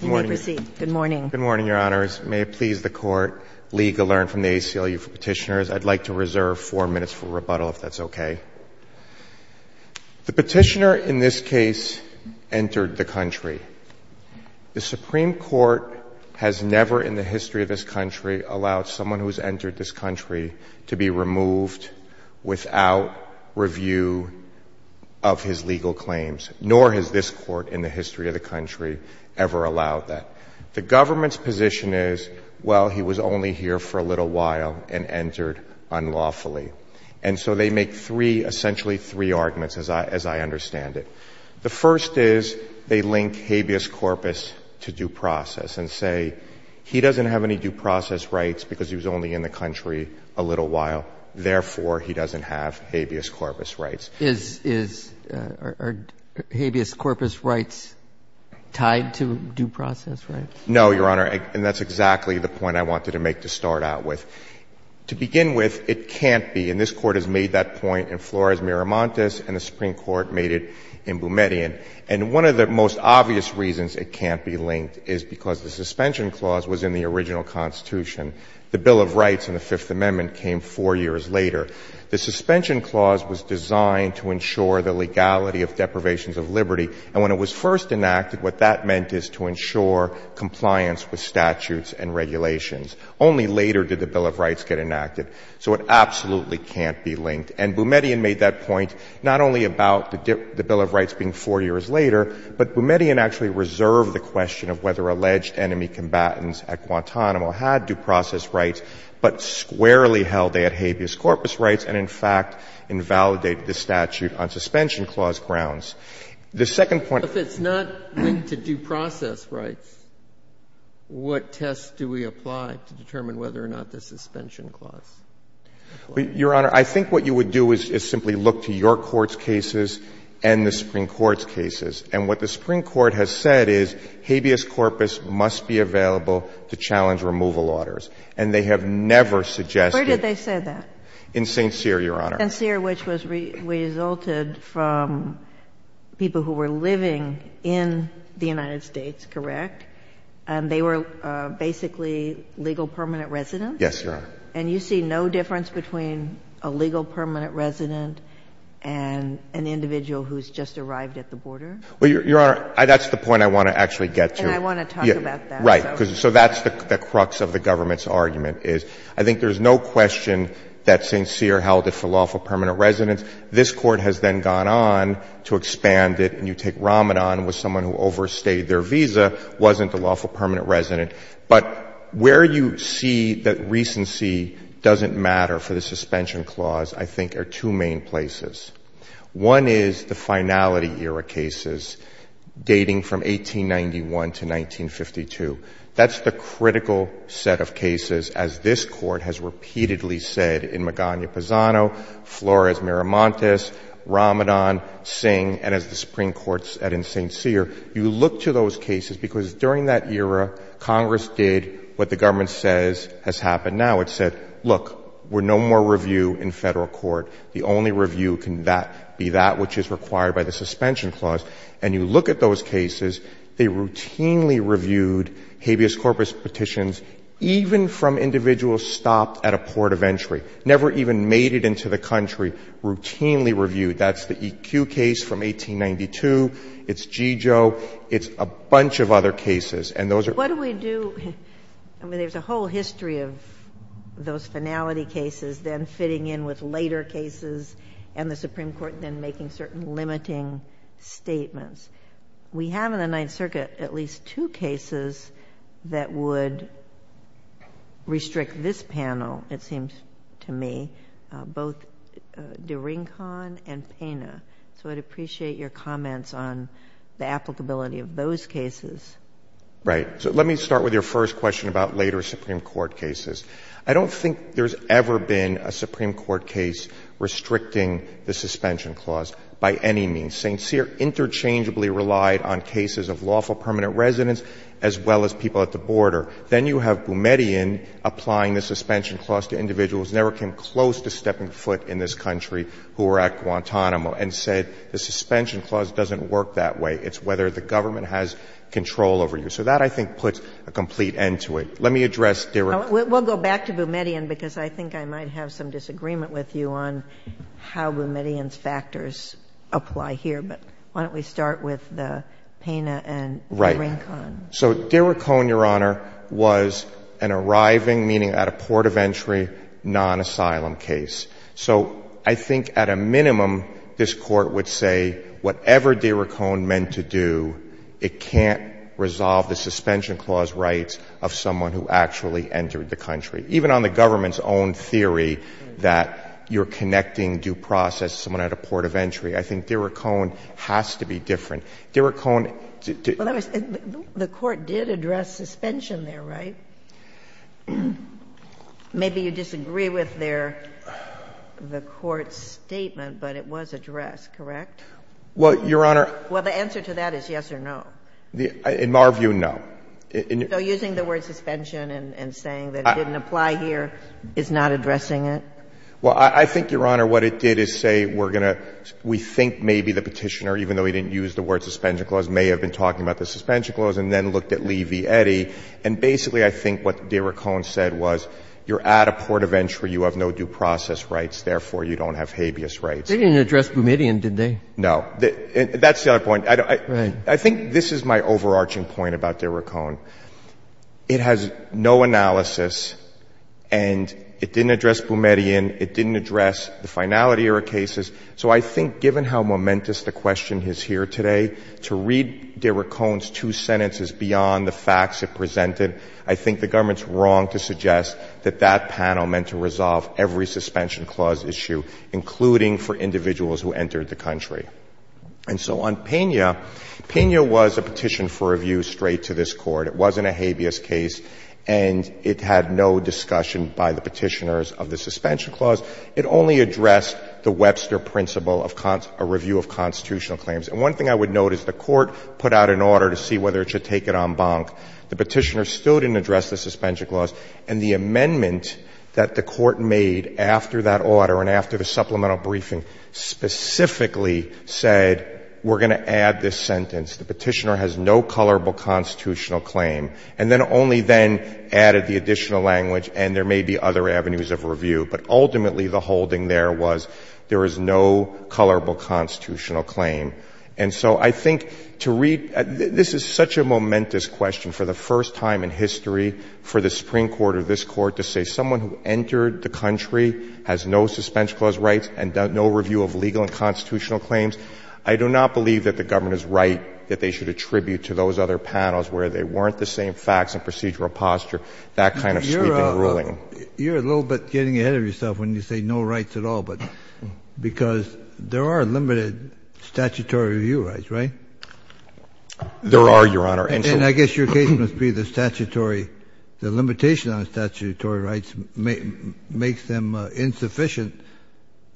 Good morning, Your Honors. May it please the court, legal learn from the ACLU for petitioners. I'd like to reserve four minutes for rebuttal, if that's okay. The petitioner in this case entered the country. The Supreme Court has never in the history of this country allowed someone who has entered this country to be removed without review of his legal claims, nor has this court in the history of the country ever allowed that. The government's position is, well, he was only here for a little while and entered unlawfully. And so they make three, essentially three arguments, as I understand it. The first is they link habeas corpus to due process and say he doesn't have any due process rights because he was only in the country a little while. Therefore, he doesn't have habeas corpus rights. Is habeas corpus rights tied to due process rights? No, Your Honor. And that's exactly the point I wanted to make to start out with. To begin with, it can't be, and this Court has made that point in Flores-Miramontes and the Supreme Court made it in Boumediene. And one of the most obvious reasons it can't be linked is because the suspension clause was in the original Constitution. The Bill of Rights in the Fifth Amendment came four years later. The suspension clause was designed to ensure the legality of deprivations of liberty. And when it was first enacted, what that meant is to ensure compliance with statutes and regulations. Only later did the Bill of Rights get enacted. So it absolutely can't be linked. And Boumediene made that point not only about the Bill of Rights being four years later, but Boumediene actually reserved the question of whether alleged enemy combatants at Guantanamo had due process rights but squarely held they had habeas corpus rights and, in fact, invalidated the statute on suspension clause grounds. The second point. If it's not linked to due process rights, what tests do we apply to determine whether or not the suspension clause applies? Your Honor, I think what you would do is simply look to your court's cases and the Supreme Court's cases. And what the Supreme Court has said is habeas corpus must be available to challenge removal orders. And they have never suggested — Where did they say that? In St. Cyr, Your Honor. In St. Cyr, which resulted from people who were living in the United States, correct? And they were basically legal permanent residents? Yes, Your Honor. And you see no difference between a legal permanent resident and an individual who's just arrived at the border? Well, Your Honor, that's the point I want to actually get to. And I want to talk about that. Right. So that's the crux of the government's argument is I think there's no question that St. Cyr held it for lawful permanent residents. This Court has then gone on to expand it. And you take Ramadan with someone who overstayed their visa, wasn't a lawful permanent resident. But where you see that recency doesn't matter for the suspension clause, I think, are two main places. One is the finality-era cases dating from 1891 to 1952. That's the critical set of cases, as this Court has repeatedly said in Magana Pisano, Flores-Miramontes, Ramadan, Singh, and as the Supreme Court said in St. Cyr. You look to those cases because during that era, Congress did what the government says has happened now. It said, look, we're no more review in Federal court. The only review can be that which is required by the suspension clause. And you look at those cases, they routinely reviewed habeas corpus petitions even from individuals stopped at a port of entry, never even made it into the country, routinely reviewed. That's the EQ case from 1892. It's G. Joe. It's a bunch of other cases. And those are... What do we do... I mean, there's a whole history of those finality cases then fitting in with later cases and the Supreme Court then making certain limiting statements. We have in the Ninth Circuit at least two cases that would restrict this panel, it seems to me, both Duringcon and Pena. So I'd appreciate your comments on the applicability of those cases. Right. So let me start with your first question about later Supreme Court cases. I don't think there's ever been a Supreme Court case restricting the suspension clause by any means. St. Cyr interchangeably relied on cases of lawful permanent residents as well as people at the border. Then you have Boumediene applying the suspension clause to individuals who never came close to stepping foot in this country who were at Guantanamo and said the suspension clause doesn't work that way. It's whether the government has control over you. So that, I think, puts a complete end to it. Let me address Duringcon. We'll go back to Boumediene because I think I might have some disagreement with you on how Boumediene's factors apply here. But why don't we start with the Pena and Duringcon. Right. So Duringcon, Your Honor, was an arriving, meaning at a port of entry, non-asylum case. So I think at a minimum, this Court would say whatever Duringcon meant to do, it can't resolve the suspension clause rights of someone who actually entered the country. Even on the government's own theory that you're connecting due process to someone at a port of entry. I think Duringcon has to be different. Duringcon. Well, the Court did address suspension there, right? Maybe you disagree with their, the Court's statement, but it was addressed, correct? Well, Your Honor. Well, the answer to that is yes or no. In our view, no. So using the word suspension and saying that it didn't apply here is not addressing it? Well, I think, Your Honor, what it did is say we're going to, we think maybe the Petitioner, even though he didn't use the word suspension clause, may have been talking about the suspension clause and then looked at Lee v. Eddy. And basically I think what Duringcon said was you're at a port of entry, you have no due process rights, therefore you don't have habeas rights. They didn't address Boumediene, did they? No. That's the other point. Right. I think this is my overarching point about Duringcon. It has no analysis and it didn't address Boumediene, it didn't address the finality of our cases. So I think given how momentous the question is here today, to read Duringcon's two sentences beyond the facts it presented, I think the government's wrong to suggest that that panel meant to resolve every suspension clause issue, including for individuals who entered the country. And so on Pena, Pena was a petition for review straight to this Court. It wasn't a habeas case and it had no discussion by the Petitioners of the suspension clause. It only addressed the Webster principle of a review of constitutional claims. And one thing I would note is the Court put out an order to see whether it should take it en banc. The Petitioners still didn't address the suspension clause. And the amendment that the Court made after that order and after the supplemental briefing specifically said we're going to add this sentence. The Petitioner has no colorable constitutional claim. And then only then added the additional language and there may be other avenues of review. But ultimately the holding there was there is no colorable constitutional claim. And so I think to read this is such a momentous question for the first time in history for the Supreme Court or this Court to say someone who entered the country has no suspension clause rights and no review of legal and constitutional claims. I do not believe that the government is right that they should attribute to those other panels where they weren't the same facts and procedural posture that kind of sweeping ruling. You're a little bit getting ahead of yourself when you say no rights at all, but because there are limited statutory review rights, right? There are, Your Honor. And I guess your case must be the statutory, the limitation on statutory rights makes them insufficient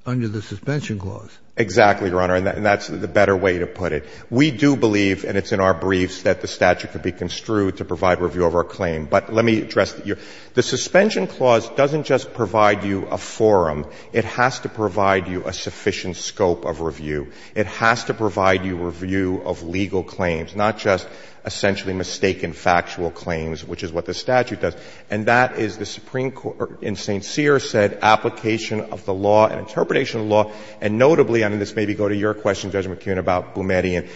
under the suspension clause. Exactly, Your Honor. And that's the better way to put it. We do believe, and it's in our briefs, that the statute could be construed to provide review of our claim. But let me address your question. The suspension clause doesn't just provide you a forum. It has to provide you a sufficient scope of review. It has to provide you review of legal claims, not just essentially mistaken factual claims, which is what the statute does. And that is the Supreme Court in St. Cyr said application of the law and interpretation of the law, and notably, and this may be going to your question, Judge McKeon, about Boumediene,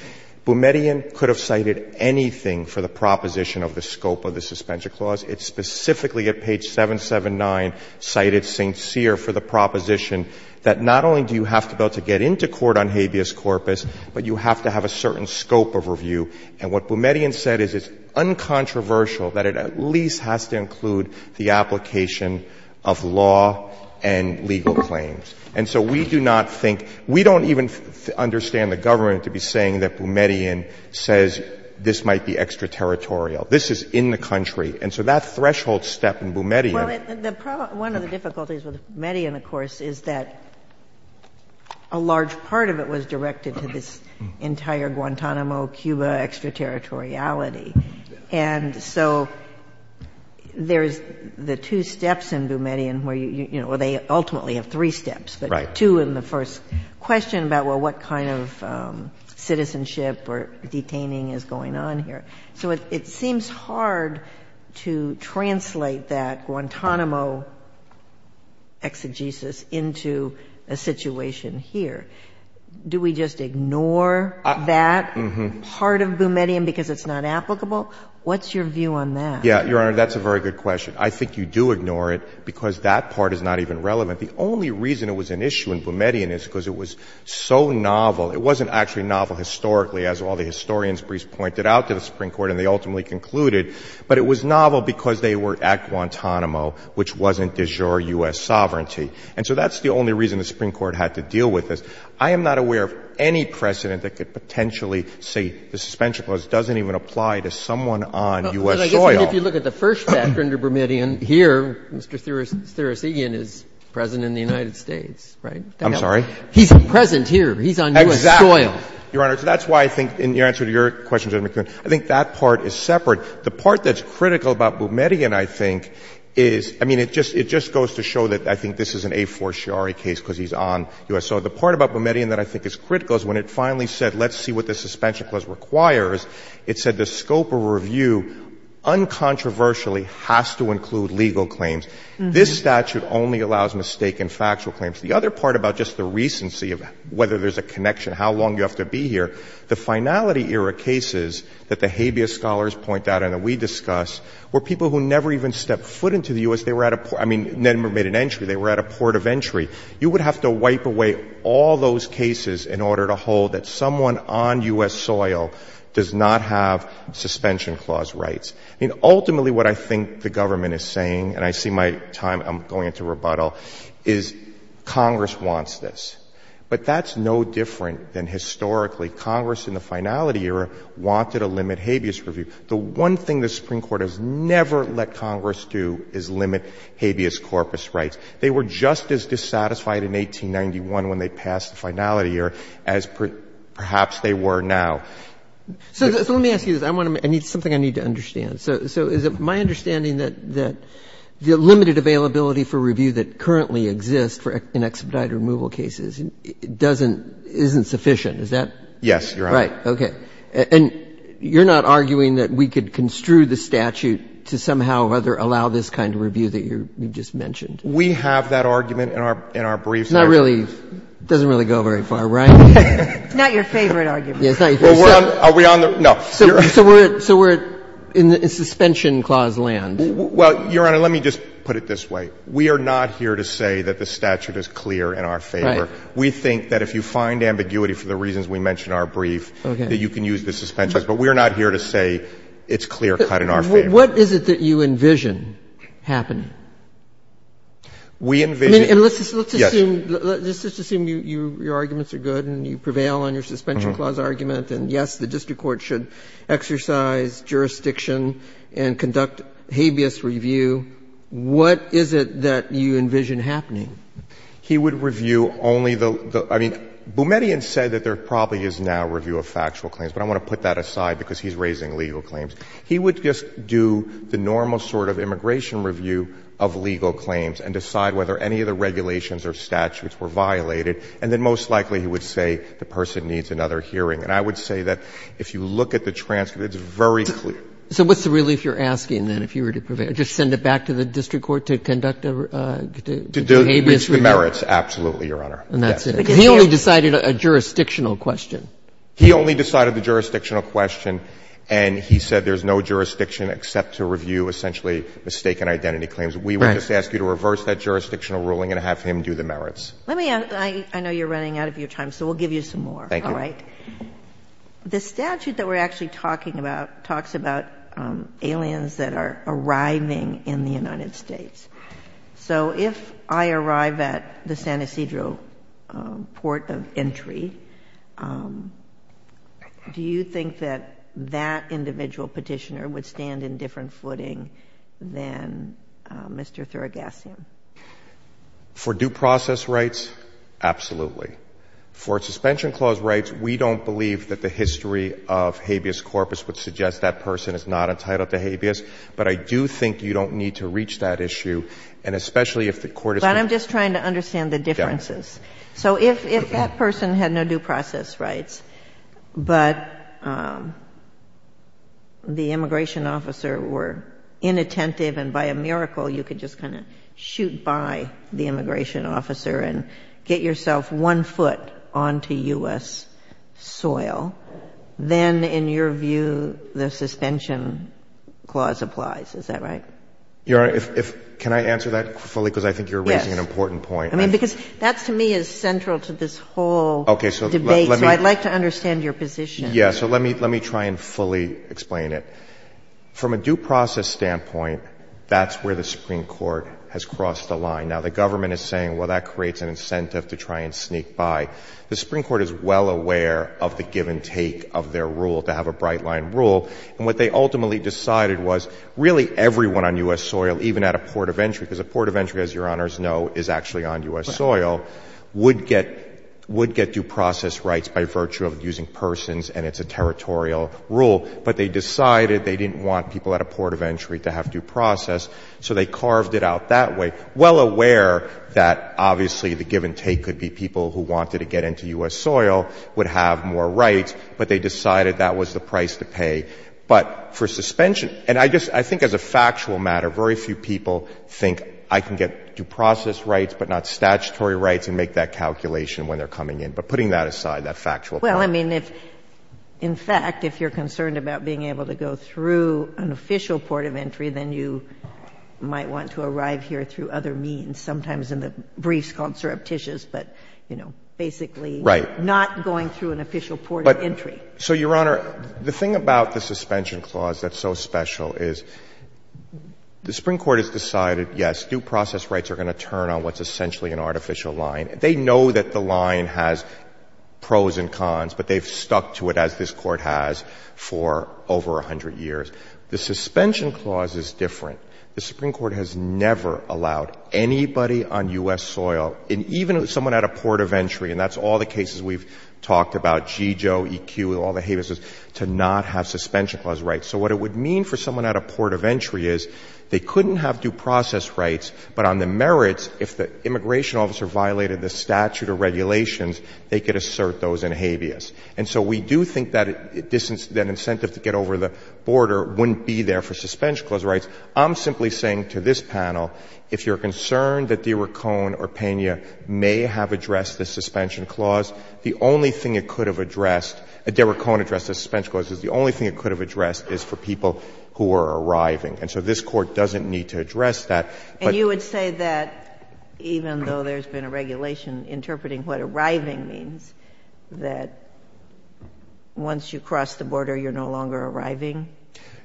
Boumediene could have cited anything for the proposition of the scope of the suspension clause. It's specifically at page 779 cited St. Cyr for the proposition that not only do you have to be able to get into court on habeas corpus, but you have to have a certain scope of review. And what Boumediene said is it's uncontroversial that it at least has to include the application of law and legal claims. And so we do not think, we don't even understand the government to be saying that this is in the country. And so that threshold step in Boumediene. Well, one of the difficulties with Boumediene, of course, is that a large part of it was directed to this entire Guantanamo, Cuba extraterritoriality. And so there's the two steps in Boumediene where you, you know, where they ultimately have three steps, but two in the first question about, well, what kind of citizenship or detaining is going on here. So it seems hard to translate that Guantanamo exegesis into a situation here. Do we just ignore that part of Boumediene because it's not applicable? What's your view on that? Yeah, Your Honor, that's a very good question. I think you do ignore it because that part is not even relevant. The only reason it was an issue in Boumediene is because it was so novel. It wasn't actually novel historically, as all the historians briefs pointed out to the Supreme Court, and they ultimately concluded. But it was novel because they were at Guantanamo, which wasn't de jure U.S. sovereignty. And so that's the only reason the Supreme Court had to deal with this. I am not aware of any precedent that could potentially say the suspension clause doesn't even apply to someone on U.S. soil. But I guess if you look at the first factor under Boumediene here, Mr. Thurasigian is present in the United States, right? I'm sorry? He's present here. He's on U.S. soil. Exactly. Your Honor, that's why I think in your answer to your question, Judge McKeon, I think that part is separate. The part that's critical about Boumediene, I think, is, I mean, it just goes to show that I think this is an a fortiori case because he's on U.S. soil. The part about Boumediene that I think is critical is when it finally said let's see what the suspension clause requires, it said the scope of review uncontroversially has to include legal claims. This statute only allows mistaken factual claims. The other part about just the recency of whether there's a connection, how long you have to be here, the finality era cases that the habeas scholars point out and that we discuss were people who never even stepped foot into the U.S. They were at a, I mean, never made an entry. They were at a port of entry. You would have to wipe away all those cases in order to hold that someone on U.S. soil does not have suspension clause rights. I mean, ultimately what I think the government is saying, and I see my time, I'm Congress wants this. But that's no different than historically. Congress in the finality era wanted to limit habeas review. The one thing the Supreme Court has never let Congress do is limit habeas corpus rights. They were just as dissatisfied in 1891 when they passed the finality era as perhaps they were now. So let me ask you this. I want to make something I need to understand. So is it my understanding that the limited availability for review that currently exists in expedited removal cases doesn't, isn't sufficient? Is that? Yes, Your Honor. Right. Okay. And you're not arguing that we could construe the statute to somehow rather allow this kind of review that you just mentioned? We have that argument in our brief statute. It doesn't really go very far, right? It's not your favorite argument. Are we on the? No. So we're in the suspension clause land. Well, Your Honor, let me just put it this way. We are not here to say that the statute is clear in our favor. Right. We think that if you find ambiguity for the reasons we mentioned in our brief, that you can use the suspension. But we are not here to say it's clear-cut in our favor. What is it that you envision happening? We envision, yes. Let's just assume your arguments are good and you prevail on your suspension clause argument, and yes, the district court should exercise jurisdiction and conduct habeas review. What is it that you envision happening? He would review only the – I mean, Boumediene said that there probably is now review of factual claims, but I want to put that aside because he's raising legal claims. He would just do the normal sort of immigration review of legal claims and decide whether any of the regulations or statutes were violated, and then most likely he would say the person needs another hearing. And I would say that if you look at the transcript, it's very clear. So what's the relief you're asking, then, if you were to prevail? Just send it back to the district court to conduct a habeas review? To do the merits. Absolutely, Your Honor. And that's it. Because he only decided a jurisdictional question. He only decided the jurisdictional question, and he said there's no jurisdiction except to review essentially mistaken identity claims. Right. We would just ask you to reverse that jurisdictional ruling and have him do the merits. Let me – I know you're running out of your time, so we'll give you some more. Thank you. All right. The statute that we're actually talking about talks about aliens that are arriving in the United States. So if I arrive at the San Ysidro port of entry, do you think that that individual petitioner would stand in different footing than Mr. Thurigassian? For due process rights, absolutely. For suspension clause rights, we don't believe that the history of habeas corpus would suggest that person is not entitled to habeas. But I do think you don't need to reach that issue, and especially if the court is But I'm just trying to understand the differences. Got it. So if that person had no due process rights, but the immigration officer were inattentive and by a miracle you could just kind of shoot by the immigration officer and get yourself one foot onto U.S. soil, then in your view the suspension clause applies. Is that right? Your Honor, can I answer that fully? Yes. Because I think you're raising an important point. I mean, because that to me is central to this whole debate, so I'd like to understand your position. Yes. So let me try and fully explain it. From a due process standpoint, that's where the Supreme Court has crossed the line. Now, the government is saying, well, that creates an incentive to try and sneak by. The Supreme Court is well aware of the give and take of their rule to have a bright line rule. And what they ultimately decided was really everyone on U.S. soil, even at a port of entry, because a port of entry, as Your Honors know, is actually on U.S. soil, would get due process rights by virtue of using persons and it's a territorial rule. But they decided they didn't want people at a port of entry to have due process, so they carved it out that way. They were well aware that obviously the give and take could be people who wanted to get into U.S. soil, would have more rights, but they decided that was the price to pay. But for suspension, and I just, I think as a factual matter, very few people think I can get due process rights but not statutory rights and make that calculation when they're coming in. But putting that aside, that factual part. Well, I mean, if, in fact, if you're concerned about being able to go through an official port of entry, then you might want to arrive here through other means, sometimes in the briefs called surreptitious, but, you know, basically not going through an official port of entry. So, Your Honor, the thing about the suspension clause that's so special is the Supreme Court has decided, yes, due process rights are going to turn on what's essentially an artificial line. They know that the line has pros and cons, but they've stuck to it as this Court has for over 100 years. The suspension clause is different. The Supreme Court has never allowed anybody on U.S. soil, and even someone at a port of entry, and that's all the cases we've talked about, GEO, EQ, all the habeas, to not have suspension clause rights. So what it would mean for someone at a port of entry is they couldn't have due process rights, but on the merits, if the immigration officer violated the statute or regulations, they could assert those in habeas. And so we do think that distance, that incentive to get over the border wouldn't be there for suspension clause rights. I'm simply saying to this panel, if you're concerned that de Racon or Pena may have addressed the suspension clause, the only thing it could have addressed, de Racon addressed the suspension clause, the only thing it could have addressed is for people who are arriving. And so this Court doesn't need to address that. But you would say that even though there's been a regulation interpreting what arriving means, that once you cross the border, you're no longer arriving?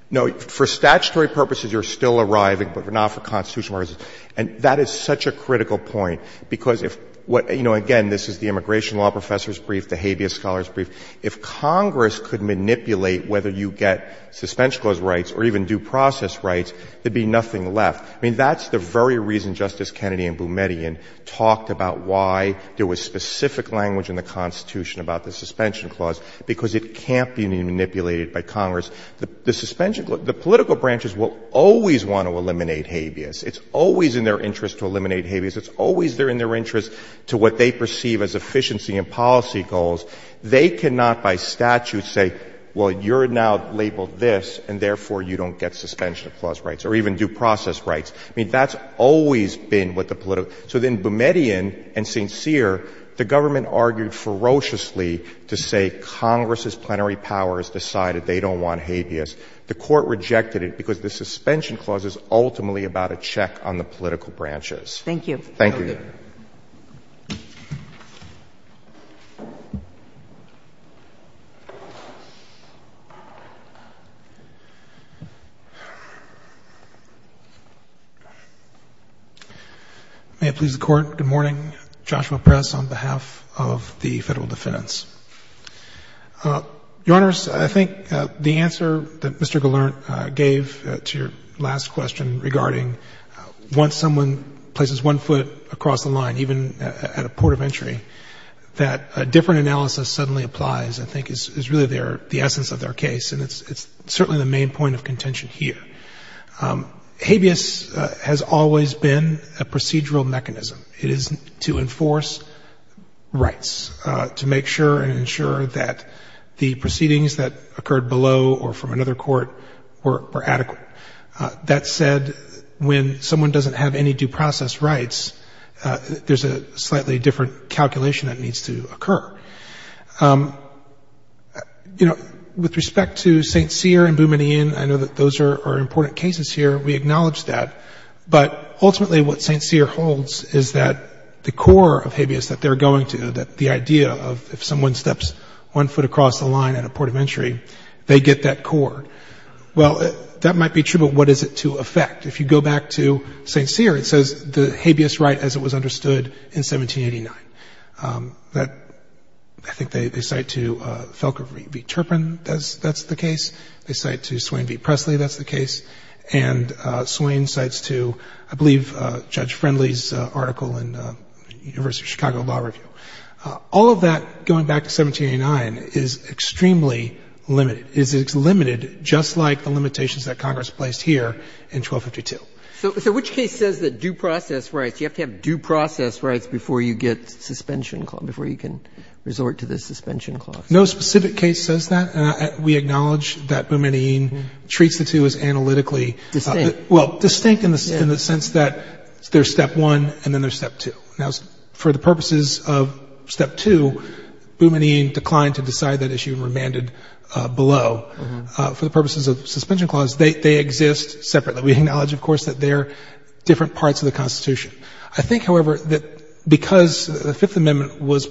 No. For statutory purposes, you're still arriving, but not for constitutional reasons. And that is such a critical point, because if what — you know, again, this is the immigration law professor's brief, the habeas scholar's brief. If Congress could manipulate whether you get suspension clause rights or even due process rights, there would be nothing left. I mean, that's the very reason Justice Kennedy and Boumediene talked about why there is no specific language in the Constitution about the suspension clause, because it can't be manipulated by Congress. The suspension — the political branches will always want to eliminate habeas. It's always in their interest to eliminate habeas. It's always in their interest to what they perceive as efficiency and policy goals. They cannot by statute say, well, you're now labeled this, and therefore you don't get suspension clause rights or even due process rights. I mean, that's always been what the political — so then Boumediene and St. Cyr, the government argued ferociously to say Congress's plenary powers decided they don't want habeas. The Court rejected it because the suspension clause is ultimately about a check on the Thank you. May it please the Court. Good morning. Joshua Press on behalf of the Federal Defense. Your Honors, I think the answer that Mr. Gallant gave to your last question regarding once someone places one foot across the line, even at a port of entry, that a different analysis suddenly applies I think is really the essence of their case, and it's certainly the main point of contention here. Habeas has always been a procedural mechanism. It is to enforce rights, to make sure and ensure that the proceedings that occurred below or from another court were adequate. That said, when someone doesn't have any due process rights, there's a slightly different calculation that needs to occur. You know, with respect to St. Cyr and Boumediene, I know that those are important cases here. We acknowledge that. But ultimately what St. Cyr holds is that the core of habeas that they're going to, that the idea of if someone steps one foot across the line at a port of entry, they get that core. Well, that might be true, but what is it to affect? If you go back to St. Cyr, it says the habeas right as it was understood in 1789. That, I think they cite to Felker v. Turpin, that's the case. They cite to Swain v. Presley, that's the case. And Swain cites to, I believe, Judge Friendly's article in University of Chicago Law Review. All of that, going back to 1789, is extremely limited. It's limited just like the limitations that Congress placed here in 1252. So which case says that due process rights, you have to have due process rights before you get suspension, before you can resort to the suspension clause? No specific case says that. We acknowledge that Boumediene treats the two as analytically. Distinct. Well, distinct in the sense that there's step one and then there's step two. Now, for the purposes of step two, Boumediene declined to decide that issue and remanded below. For the purposes of suspension clause, they exist separately. We acknowledge, of course, that they're different parts of the Constitution. I think, however, that because the Fifth Amendment was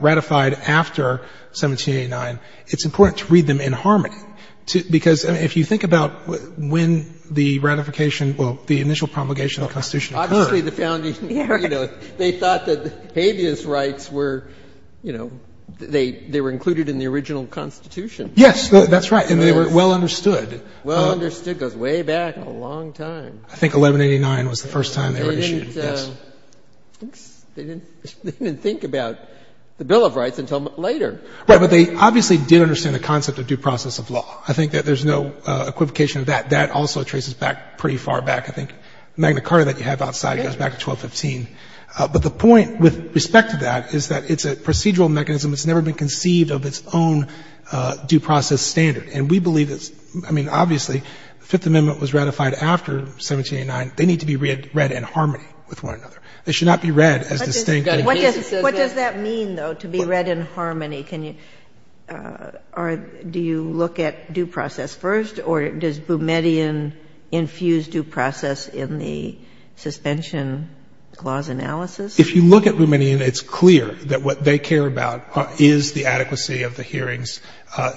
ratified after 1789, it's important to read them in harmony. Because if you think about when the ratification, well, the initial promulgation of the Constitution occurred. Obviously, the founding, you know, they thought that habeas rights were, you know, they were included in the original Constitution. Yes, that's right. And they were well understood. Well understood, goes way back, a long time. I think 1189 was the first time they were issued, yes. They didn't think about the Bill of Rights until later. Right, but they obviously did understand the concept of due process of law. I think that there's no equivocation of that. That also traces back pretty far back. I think Magna Carta that you have outside goes back to 1215. But the point with respect to that is that it's a procedural mechanism. It's never been conceived of its own due process standard. And we believe it's, I mean, obviously, the Fifth Amendment was ratified after 1789. They need to be read in harmony with one another. They should not be read as distinct. What does that mean, though, to be read in harmony? Can you or do you look at due process first or does Boumediene infuse due process in the suspension clause analysis? If you look at Boumediene, it's clear that what they care about is the adequacy of the hearings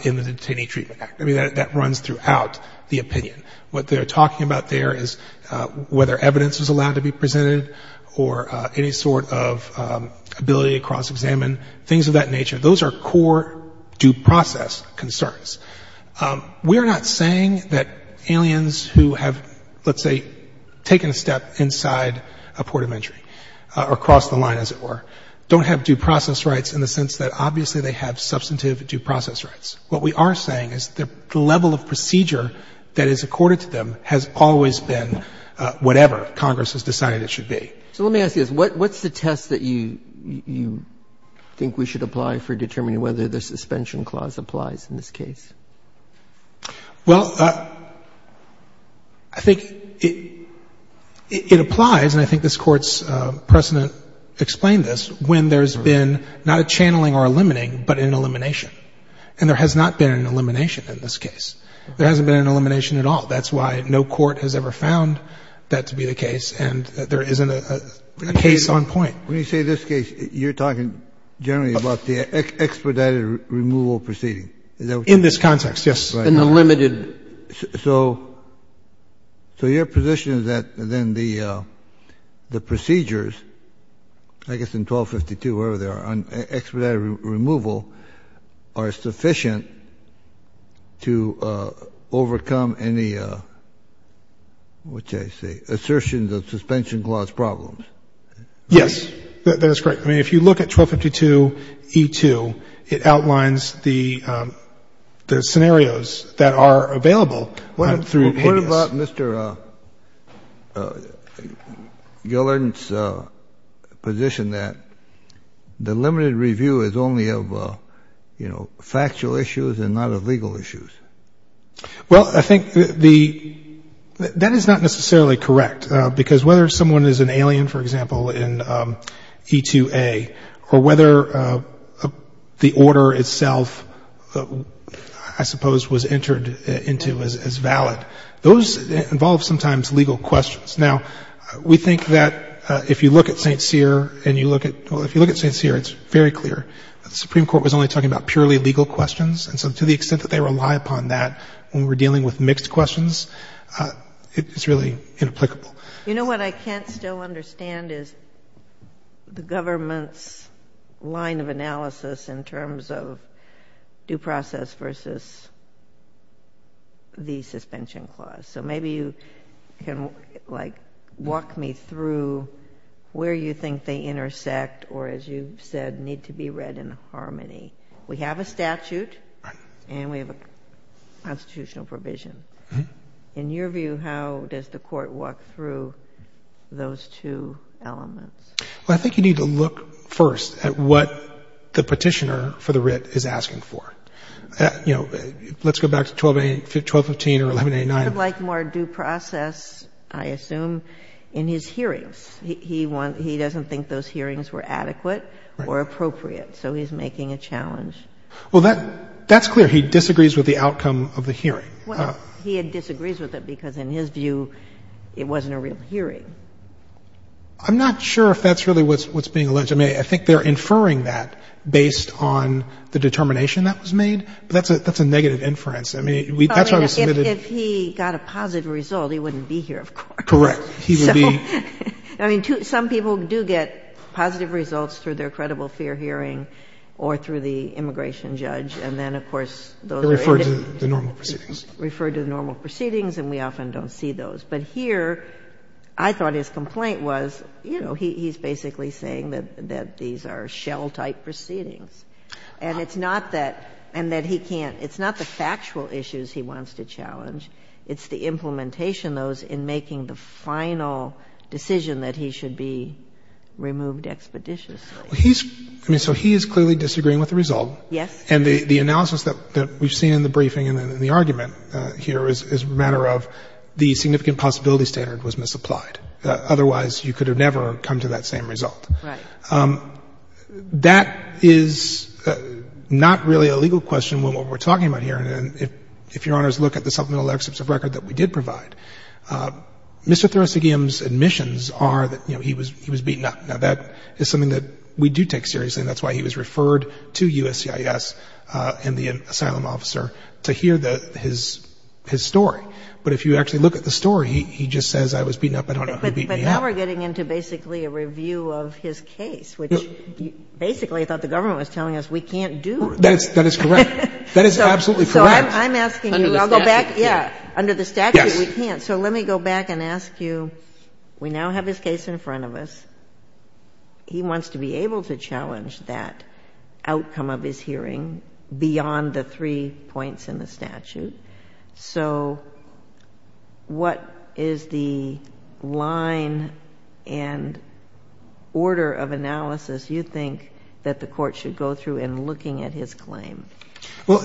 in the Detainee Treatment Act. I mean, that runs throughout the opinion. What they're talking about there is whether evidence is allowed to be presented or any sort of ability to cross-examine, things of that nature. Those are core due process concerns. We are not saying that aliens who have, let's say, taken a step inside a port of entry or crossed the line, as it were, don't have due process rights in the sense that, obviously, they have substantive due process rights. What we are saying is the level of procedure that is accorded to them has always been whatever Congress has decided it should be. So let me ask you this. What's the test that you think we should apply for determining whether the suspension clause applies in this case? Well, I think it applies, and I think this Court's precedent explained this, when there's been not a channeling or a limiting, but an elimination. And there has not been an elimination in this case. There hasn't been an elimination at all. That's why no court has ever found that to be the case, and there isn't a case on point. When you say this case, you're talking generally about the expedited removal proceeding. In this context, yes. In the limited. So your position is that then the procedures, I guess in 1252, wherever they are, on expedited removal are sufficient to overcome any, what did I say, assertions of suspension clause problems? Yes. That is correct. I mean, if you look at 1252e2, it outlines the scenarios that are available. What about Mr. Gillard's position that the limited review is only of, you know, factual issues and not of legal issues? Well, I think that is not necessarily correct, because whether someone is an alien, for example, in e2a, or whether the order itself, I suppose, was entered into as valid, those involve sometimes legal questions. Now, we think that if you look at St. Cyr and you look at — well, if you look at St. Cyr, it's very clear that the Supreme Court was only talking about purely legal questions. And so to the extent that they rely upon that when we're dealing with mixed questions, it's really inapplicable. You know what I can't still understand is the government's line of analysis in terms of due process versus the suspension clause. So maybe you can, like, walk me through where you think they intersect or, as you've said, need to be read in harmony. We have a statute and we have a constitutional provision. In your view, how does the Court walk through those two elements? Well, I think you need to look first at what the petitioner for the writ is asking for. You know, let's go back to 1215 or 1189. He would like more due process, I assume, in his hearings. He doesn't think those hearings were adequate or appropriate, so he's making a challenge. Well, that's clear. He disagrees with the outcome of the hearing. Well, he disagrees with it because, in his view, it wasn't a real hearing. I'm not sure if that's really what's being alleged. I mean, I think they're inferring that based on the determination that was made, but that's a negative inference. I mean, that's why we submitted. If he got a positive result, he wouldn't be here, of course. Correct. He would be. I mean, some people do get positive results through their credible fair hearing or through the immigration judge, and then, of course, those are added. They're referred to the normal proceedings. Referred to the normal proceedings, and we often don't see those. But here, I thought his complaint was, you know, he's basically saying that these are shell-type proceedings. And it's not that he can't — it's not the factual issues he wants to challenge. It's the implementation of those in making the final decision that he should be removed expeditiously. Well, he's — I mean, so he is clearly disagreeing with the result. Yes. And the analysis that we've seen in the briefing and in the argument here is a matter of the significant possibility standard was misapplied. Otherwise, you could have never come to that same result. Right. That is not really a legal question when what we're talking about here, and if Your Honors look at the supplemental excerpts of record that we did provide, Mr. Thoressegian's admissions are that, you know, he was beaten up. Now, that is something that we do take seriously, and that's why he was referred to USCIS and the asylum officer to hear his story. But if you actually look at the story, he just says, I was beaten up. I don't know who beat me up. But now we're getting into basically a review of his case, which basically I thought the government was telling us we can't do. That is correct. That is absolutely correct. So I'm asking you. Under the statute? Yeah. Under the statute, we can't. Yes. Okay. So let me go back and ask you, we now have his case in front of us. He wants to be able to challenge that outcome of his hearing beyond the three points in the statute. So what is the line and order of analysis you think that the Court should go through in looking at his claim? Well,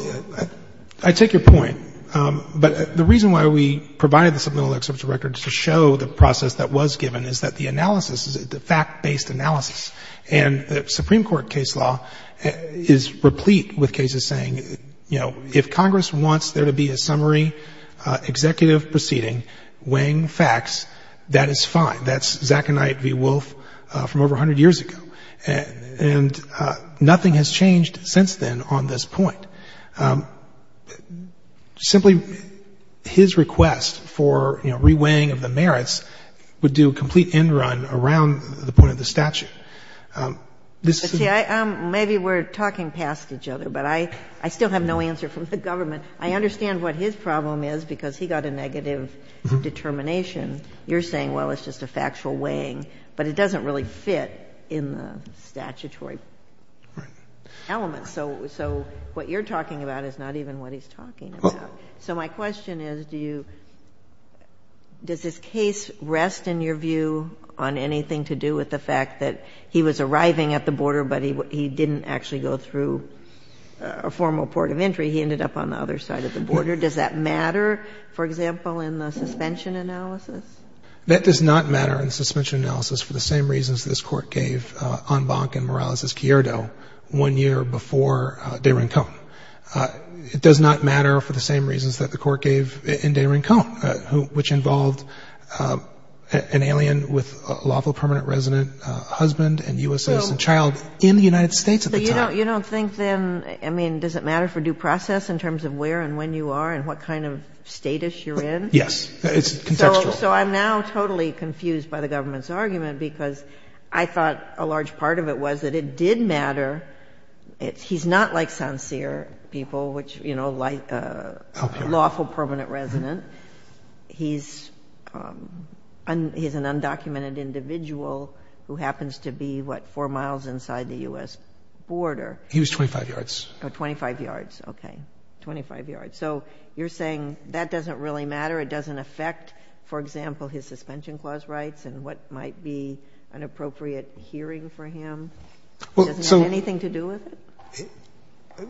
I take your point. But the reason why we provided the supplemental excerpts of records to show the process that was given is that the analysis is a fact-based analysis. And the Supreme Court case law is replete with cases saying, you know, if Congress wants there to be a summary executive proceeding weighing facts, that is fine. That's Zach and I at V. Wolf from over 100 years ago. And nothing has changed since then on this point. Simply his request for, you know, re-weighing of the merits would do a complete end run around the point of the statute. This is the... See, maybe we're talking past each other, but I still have no answer from the government. I understand what his problem is, because he got a negative determination. You're saying, well, it's just a factual weighing. But it doesn't really fit in the statutory element. So what you're talking about is not even what he's talking about. So my question is, do you... Does his case rest in your view on anything to do with the fact that he was arriving at the border, but he didn't actually go through a formal port of entry? He ended up on the other side of the border. Does that matter, for example, in the suspension analysis? That does not matter in the suspension analysis for the same reasons this Court gave on Bonk and Morales' Cierdo one year before de Rincón. It does not matter for the same reasons that the Court gave in de Rincón, which involved an alien with a lawful permanent resident husband and U.S. citizen child in the United States at the time. So you don't think then, I mean, does it matter for due process in terms of where and when you are and what kind of status you're in? Yes. It's contextual. So I'm now totally confused by the government's argument, because I thought a large part of it was that it did matter. He's not like Sancerre people, which, you know, like a lawful permanent resident. He's an undocumented individual who happens to be, what, four miles inside the U.S. border. He was 25 yards. Oh, 25 yards. Okay. 25 yards. So you're saying that doesn't really matter? It doesn't affect, for example, his suspension clause rights and what might be an appropriate hearing for him? Well, so — Does it have anything to do with it?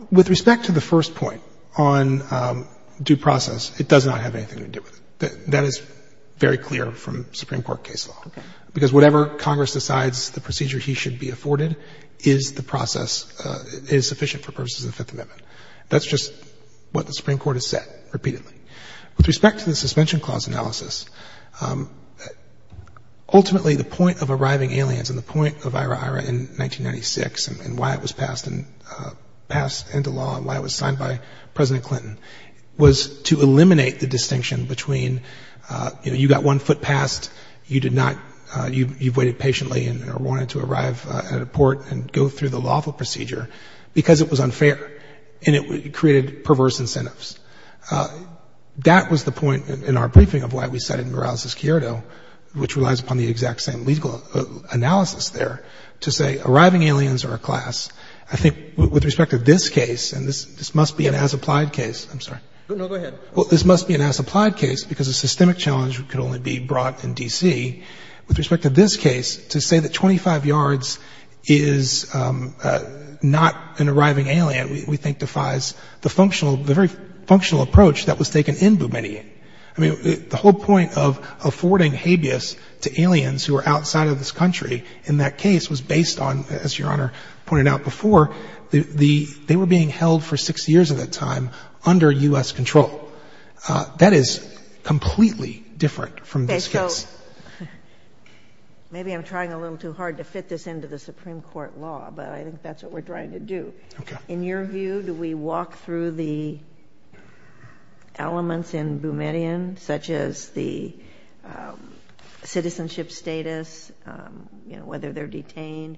With respect to the first point on due process, it does not have anything to do with it. That is very clear from Supreme Court case law. Okay. Because whatever Congress decides the procedure he should be afforded is the process is sufficient for purposes of the Fifth Amendment. That's just what the Supreme Court has said repeatedly. With respect to the suspension clause analysis, ultimately the point of arriving aliens and the point of IRA-IRA in 1996 and why it was passed into law and why it was signed by President Clinton was to eliminate the distinction between, you know, you got one foot passed, you did not — you've waited patiently and wanted to arrive at a port and go through the lawful procedure because it was unfair and it created perverse incentives. That was the point in our briefing of why we cited Morales v. Chiodo, which relies upon the exact same legal analysis there, to say arriving aliens are a class. I think with respect to this case, and this must be an as-applied case. I'm sorry. No, go ahead. Well, this must be an as-applied case because a systemic challenge could only be brought in D.C. With respect to this case, to say that 25 yards is not an arriving alien, we think defies the very functional approach that was taken in Boumediene. I mean, the whole point of affording habeas to aliens who are outside of this country in that case was based on, as Your Honor pointed out before, they were being held for six years at that time under U.S. control. That is completely different from this case. Maybe I'm trying a little too hard to fit this into the Supreme Court law, but I think that's what we're trying to do. In your view, do we walk through the elements in Boumediene, such as the citizenship status, whether they're detained?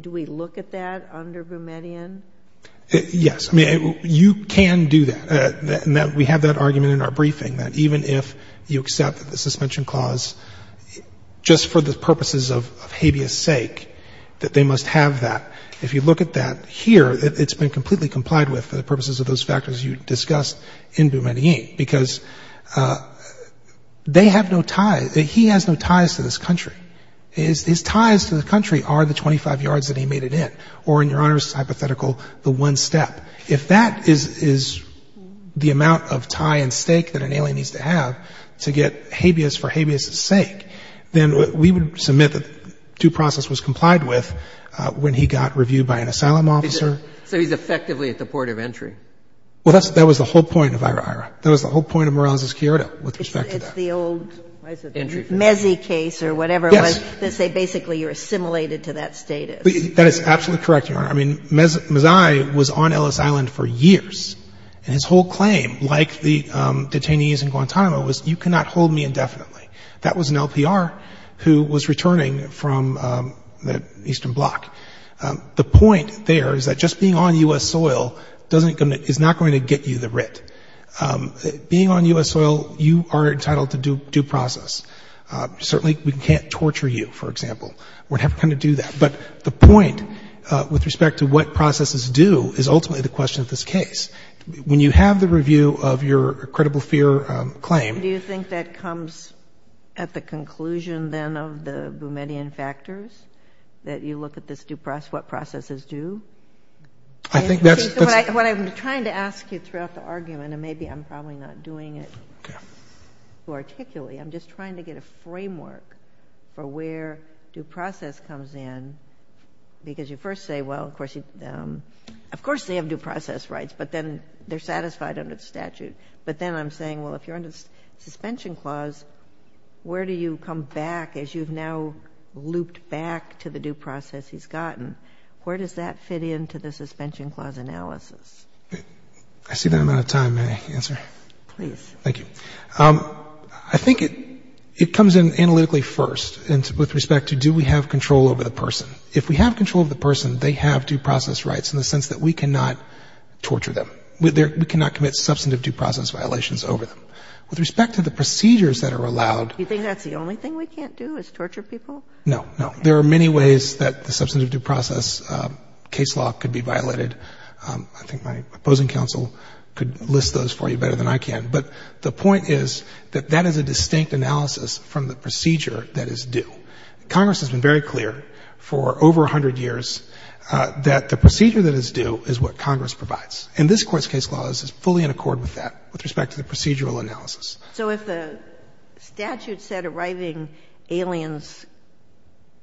Do we look at that under Boumediene? Yes. I mean, you can do that. We have that argument in our briefing, that even if you accept that the suspension clause, just for the purposes of habeas sake, that they must have that. If you look at that here, it's been completely complied with for the purposes of those factors you discussed in Boumediene because they have no tie, he has no ties to this country. His ties to the country are the 25 yards that he made it in, or in Your Honor's hypothetical, the one step. If that is the amount of tie and stake that an alien needs to have to get habeas for habeas' sake, then we would submit that due process was complied with when he got reviewed by an asylum officer. So he's effectively at the point of entry? Well, that was the whole point of Ira-Ira. That was the whole point of Morales v. Chiodo with respect to that. It's the old Meze case or whatever. Yes. They say basically you're assimilated to that status. That is absolutely correct, Your Honor. I mean, Meze was on Ellis Island for years, and his whole claim, like the detainees in Guantanamo, was you cannot hold me indefinitely. That was an LPR who was returning from the Eastern Bloc. The point there is that just being on U.S. soil is not going to get you the writ. Being on U.S. soil, you are entitled to due process. Certainly we can't torture you, for example. We're never going to do that. But the point with respect to what processes do is ultimately the question of this case. When you have the review of your credible fear claim. Do you think that comes at the conclusion then of the Boumediene factors, that you look at this due process, what processes do? I think that's. What I'm trying to ask you throughout the argument, and maybe I'm probably not doing it articulately, I'm just trying to get a framework for where due process comes in, because you first say, well, of course they have due process rights, but then they're satisfied under the statute. But then I'm saying, well, if you're under the suspension clause, where do you come back as you've now looped back to the due process he's gotten? Where does that fit into the suspension clause analysis? I see that I'm out of time. May I answer? Thank you. I think it comes in analytically first with respect to do we have control over the person. If we have control of the person, they have due process rights in the sense that we cannot torture them. We cannot commit substantive due process violations over them. With respect to the procedures that are allowed. Do you think that's the only thing we can't do is torture people? No. There are many ways that the substantive due process case law could be violated. I think my opposing counsel could list those for you better than I can. But the point is that that is a distinct analysis from the procedure that is due. Congress has been very clear for over a hundred years that the procedure that is due is what Congress provides. And this Court's case law is fully in accord with that with respect to the procedural analysis. So if the statute said arriving aliens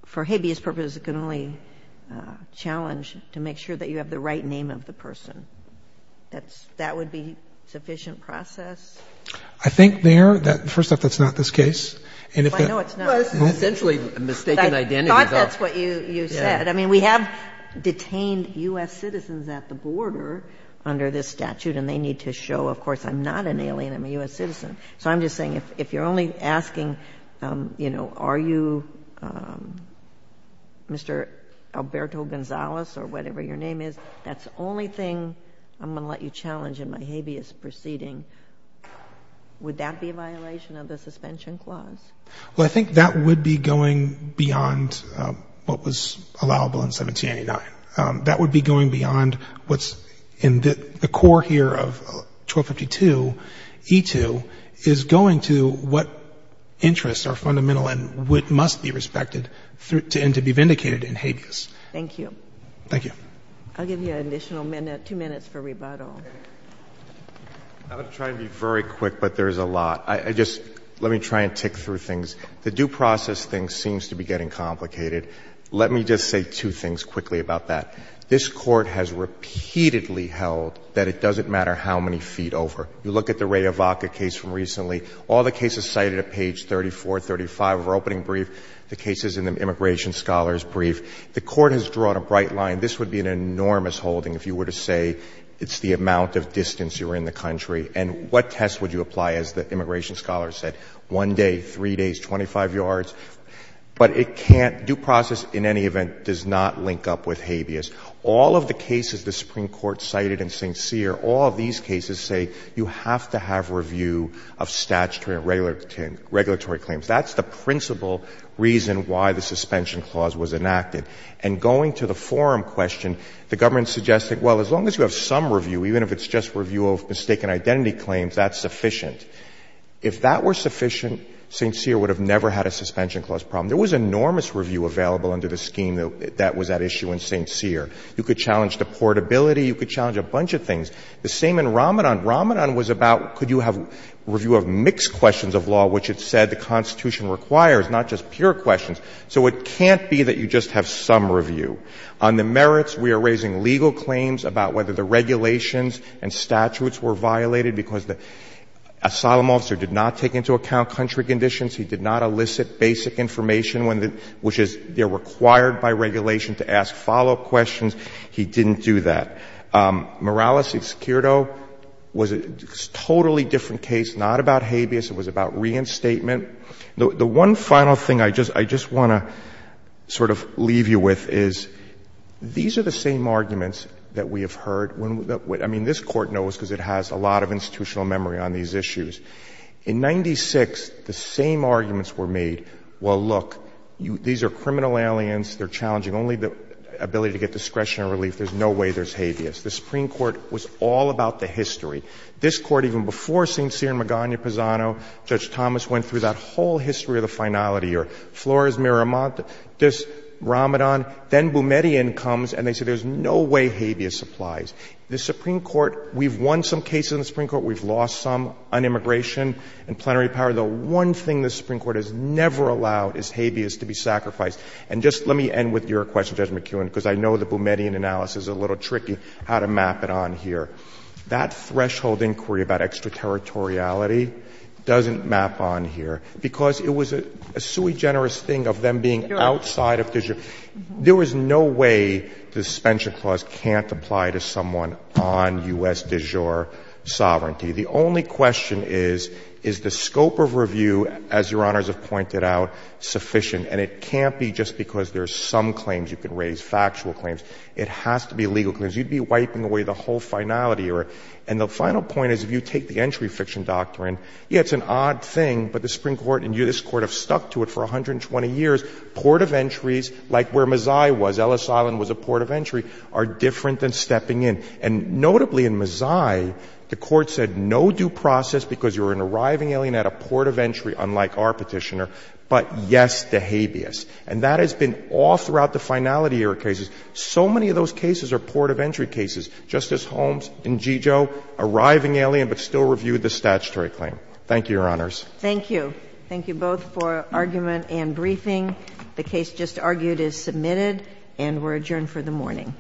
for habeas purposes, it can only challenge to make sure that you have the right name of the person. That would be sufficient process? I think, Mayor, first off, that's not this case. I know it's not. It's essentially a mistaken identity. I thought that's what you said. I mean, we have detained U.S. citizens at the border under this statute, and they need to show, of course, I'm not an alien, I'm a U.S. citizen. So I'm just saying if you're only asking, you know, are you Mr. Alberto Gonzalez or whatever your name is, that's the only thing I'm going to let you challenge in my habeas proceeding, would that be a violation of the suspension clause? Well, I think that would be going beyond what was allowable in 1789. That would be going beyond what's in the core here of 1252, E-2, is going to what interests are fundamental and what must be respected and to be vindicated in habeas. Thank you. Thank you. I'll give you an additional minute, two minutes, for rebuttal. I'm going to try and be very quick, but there's a lot. I just let me try and tick through things. The due process thing seems to be getting complicated. Let me just say two things quickly about that. This Court has repeatedly held that it doesn't matter how many feet over. You look at the Raya Vaca case from recently. All the cases cited at page 34, 35 of our opening brief, the cases in the Immigration Scholars brief, the Court has drawn a bright line. This would be an enormous holding if you were to say it's the amount of distance you're in the country. And what test would you apply, as the Immigration Scholars said? One day, three days, 25 yards? But it can't do process in any event does not link up with habeas. All of the cases the Supreme Court cited in St. Cyr, all these cases say you have to have review of statutory and regulatory claims. That's the principal reason why the suspension clause was enacted. And going to the forum question, the government suggested, well, as long as you have some review, even if it's just review of mistaken identity claims, that's sufficient. If that were sufficient, St. Cyr would have never had a suspension clause problem. There was enormous review available under the scheme that was at issue in St. Cyr. You could challenge the portability. You could challenge a bunch of things. The same in Ramanan. Ramanan was about could you have review of mixed questions of law, which it said the Constitution requires, not just pure questions. So it can't be that you just have some review. On the merits, we are raising legal claims about whether the regulations and statutes were violated because the asylum officer did not take into account country conditions. He did not elicit basic information, which is they're required by regulation to ask follow-up questions. He didn't do that. Morales v. Securito was a totally different case, not about habeas. It was about reinstatement. The one final thing I just want to sort of leave you with is these are the same arguments that we have heard. I mean, this Court knows because it has a lot of institutional memory on these issues. In 1996, the same arguments were made, well, look, these are criminal aliens. They're challenging only the ability to get discretion and relief. There's no way there's habeas. The Supreme Court was all about the history. This Court, even before St. Cyr and Magana Pisano, Judge Thomas went through that whole history of the finality or Flores, Miramonte, this, Ramadan, then Boumediene comes and they say there's no way habeas applies. The Supreme Court, we've won some cases in the Supreme Court, we've lost some on immigration and plenary power. The one thing the Supreme Court has never allowed is habeas to be sacrificed. And just let me end with your question, Judge McKeown, because I know the Boumediene analysis is a little tricky how to map it on here. That threshold inquiry about extraterritoriality doesn't map on here, because it was a sui generis thing of them being outside of de jure. There is no way the suspension clause can't apply to someone on U.S. de jure sovereignty. The only question is, is the scope of review, as Your Honors have pointed out, sufficient? And it can't be just because there's some claims you can raise, factual claims. It has to be legal claims. You'd be wiping away the whole finality. And the final point is, if you take the entry fiction doctrine, yeah, it's an odd thing, but the Supreme Court and this Court have stuck to it for 120 years. Port of entries, like where Mazzai was, Ellis Island was a port of entry, are different than stepping in. And notably in Mazzai, the Court said no due process because you're an arriving alien at a port of entry, unlike our petitioner. But yes to habeas. And that has been all throughout the finality era cases. So many of those cases are port of entry cases. Justice Holmes and Gigio, arriving alien but still reviewed the statutory claim. Thank you, Your Honors. Thank you. Thank you both for argument and briefing. The case just argued is submitted and we're adjourned for the morning.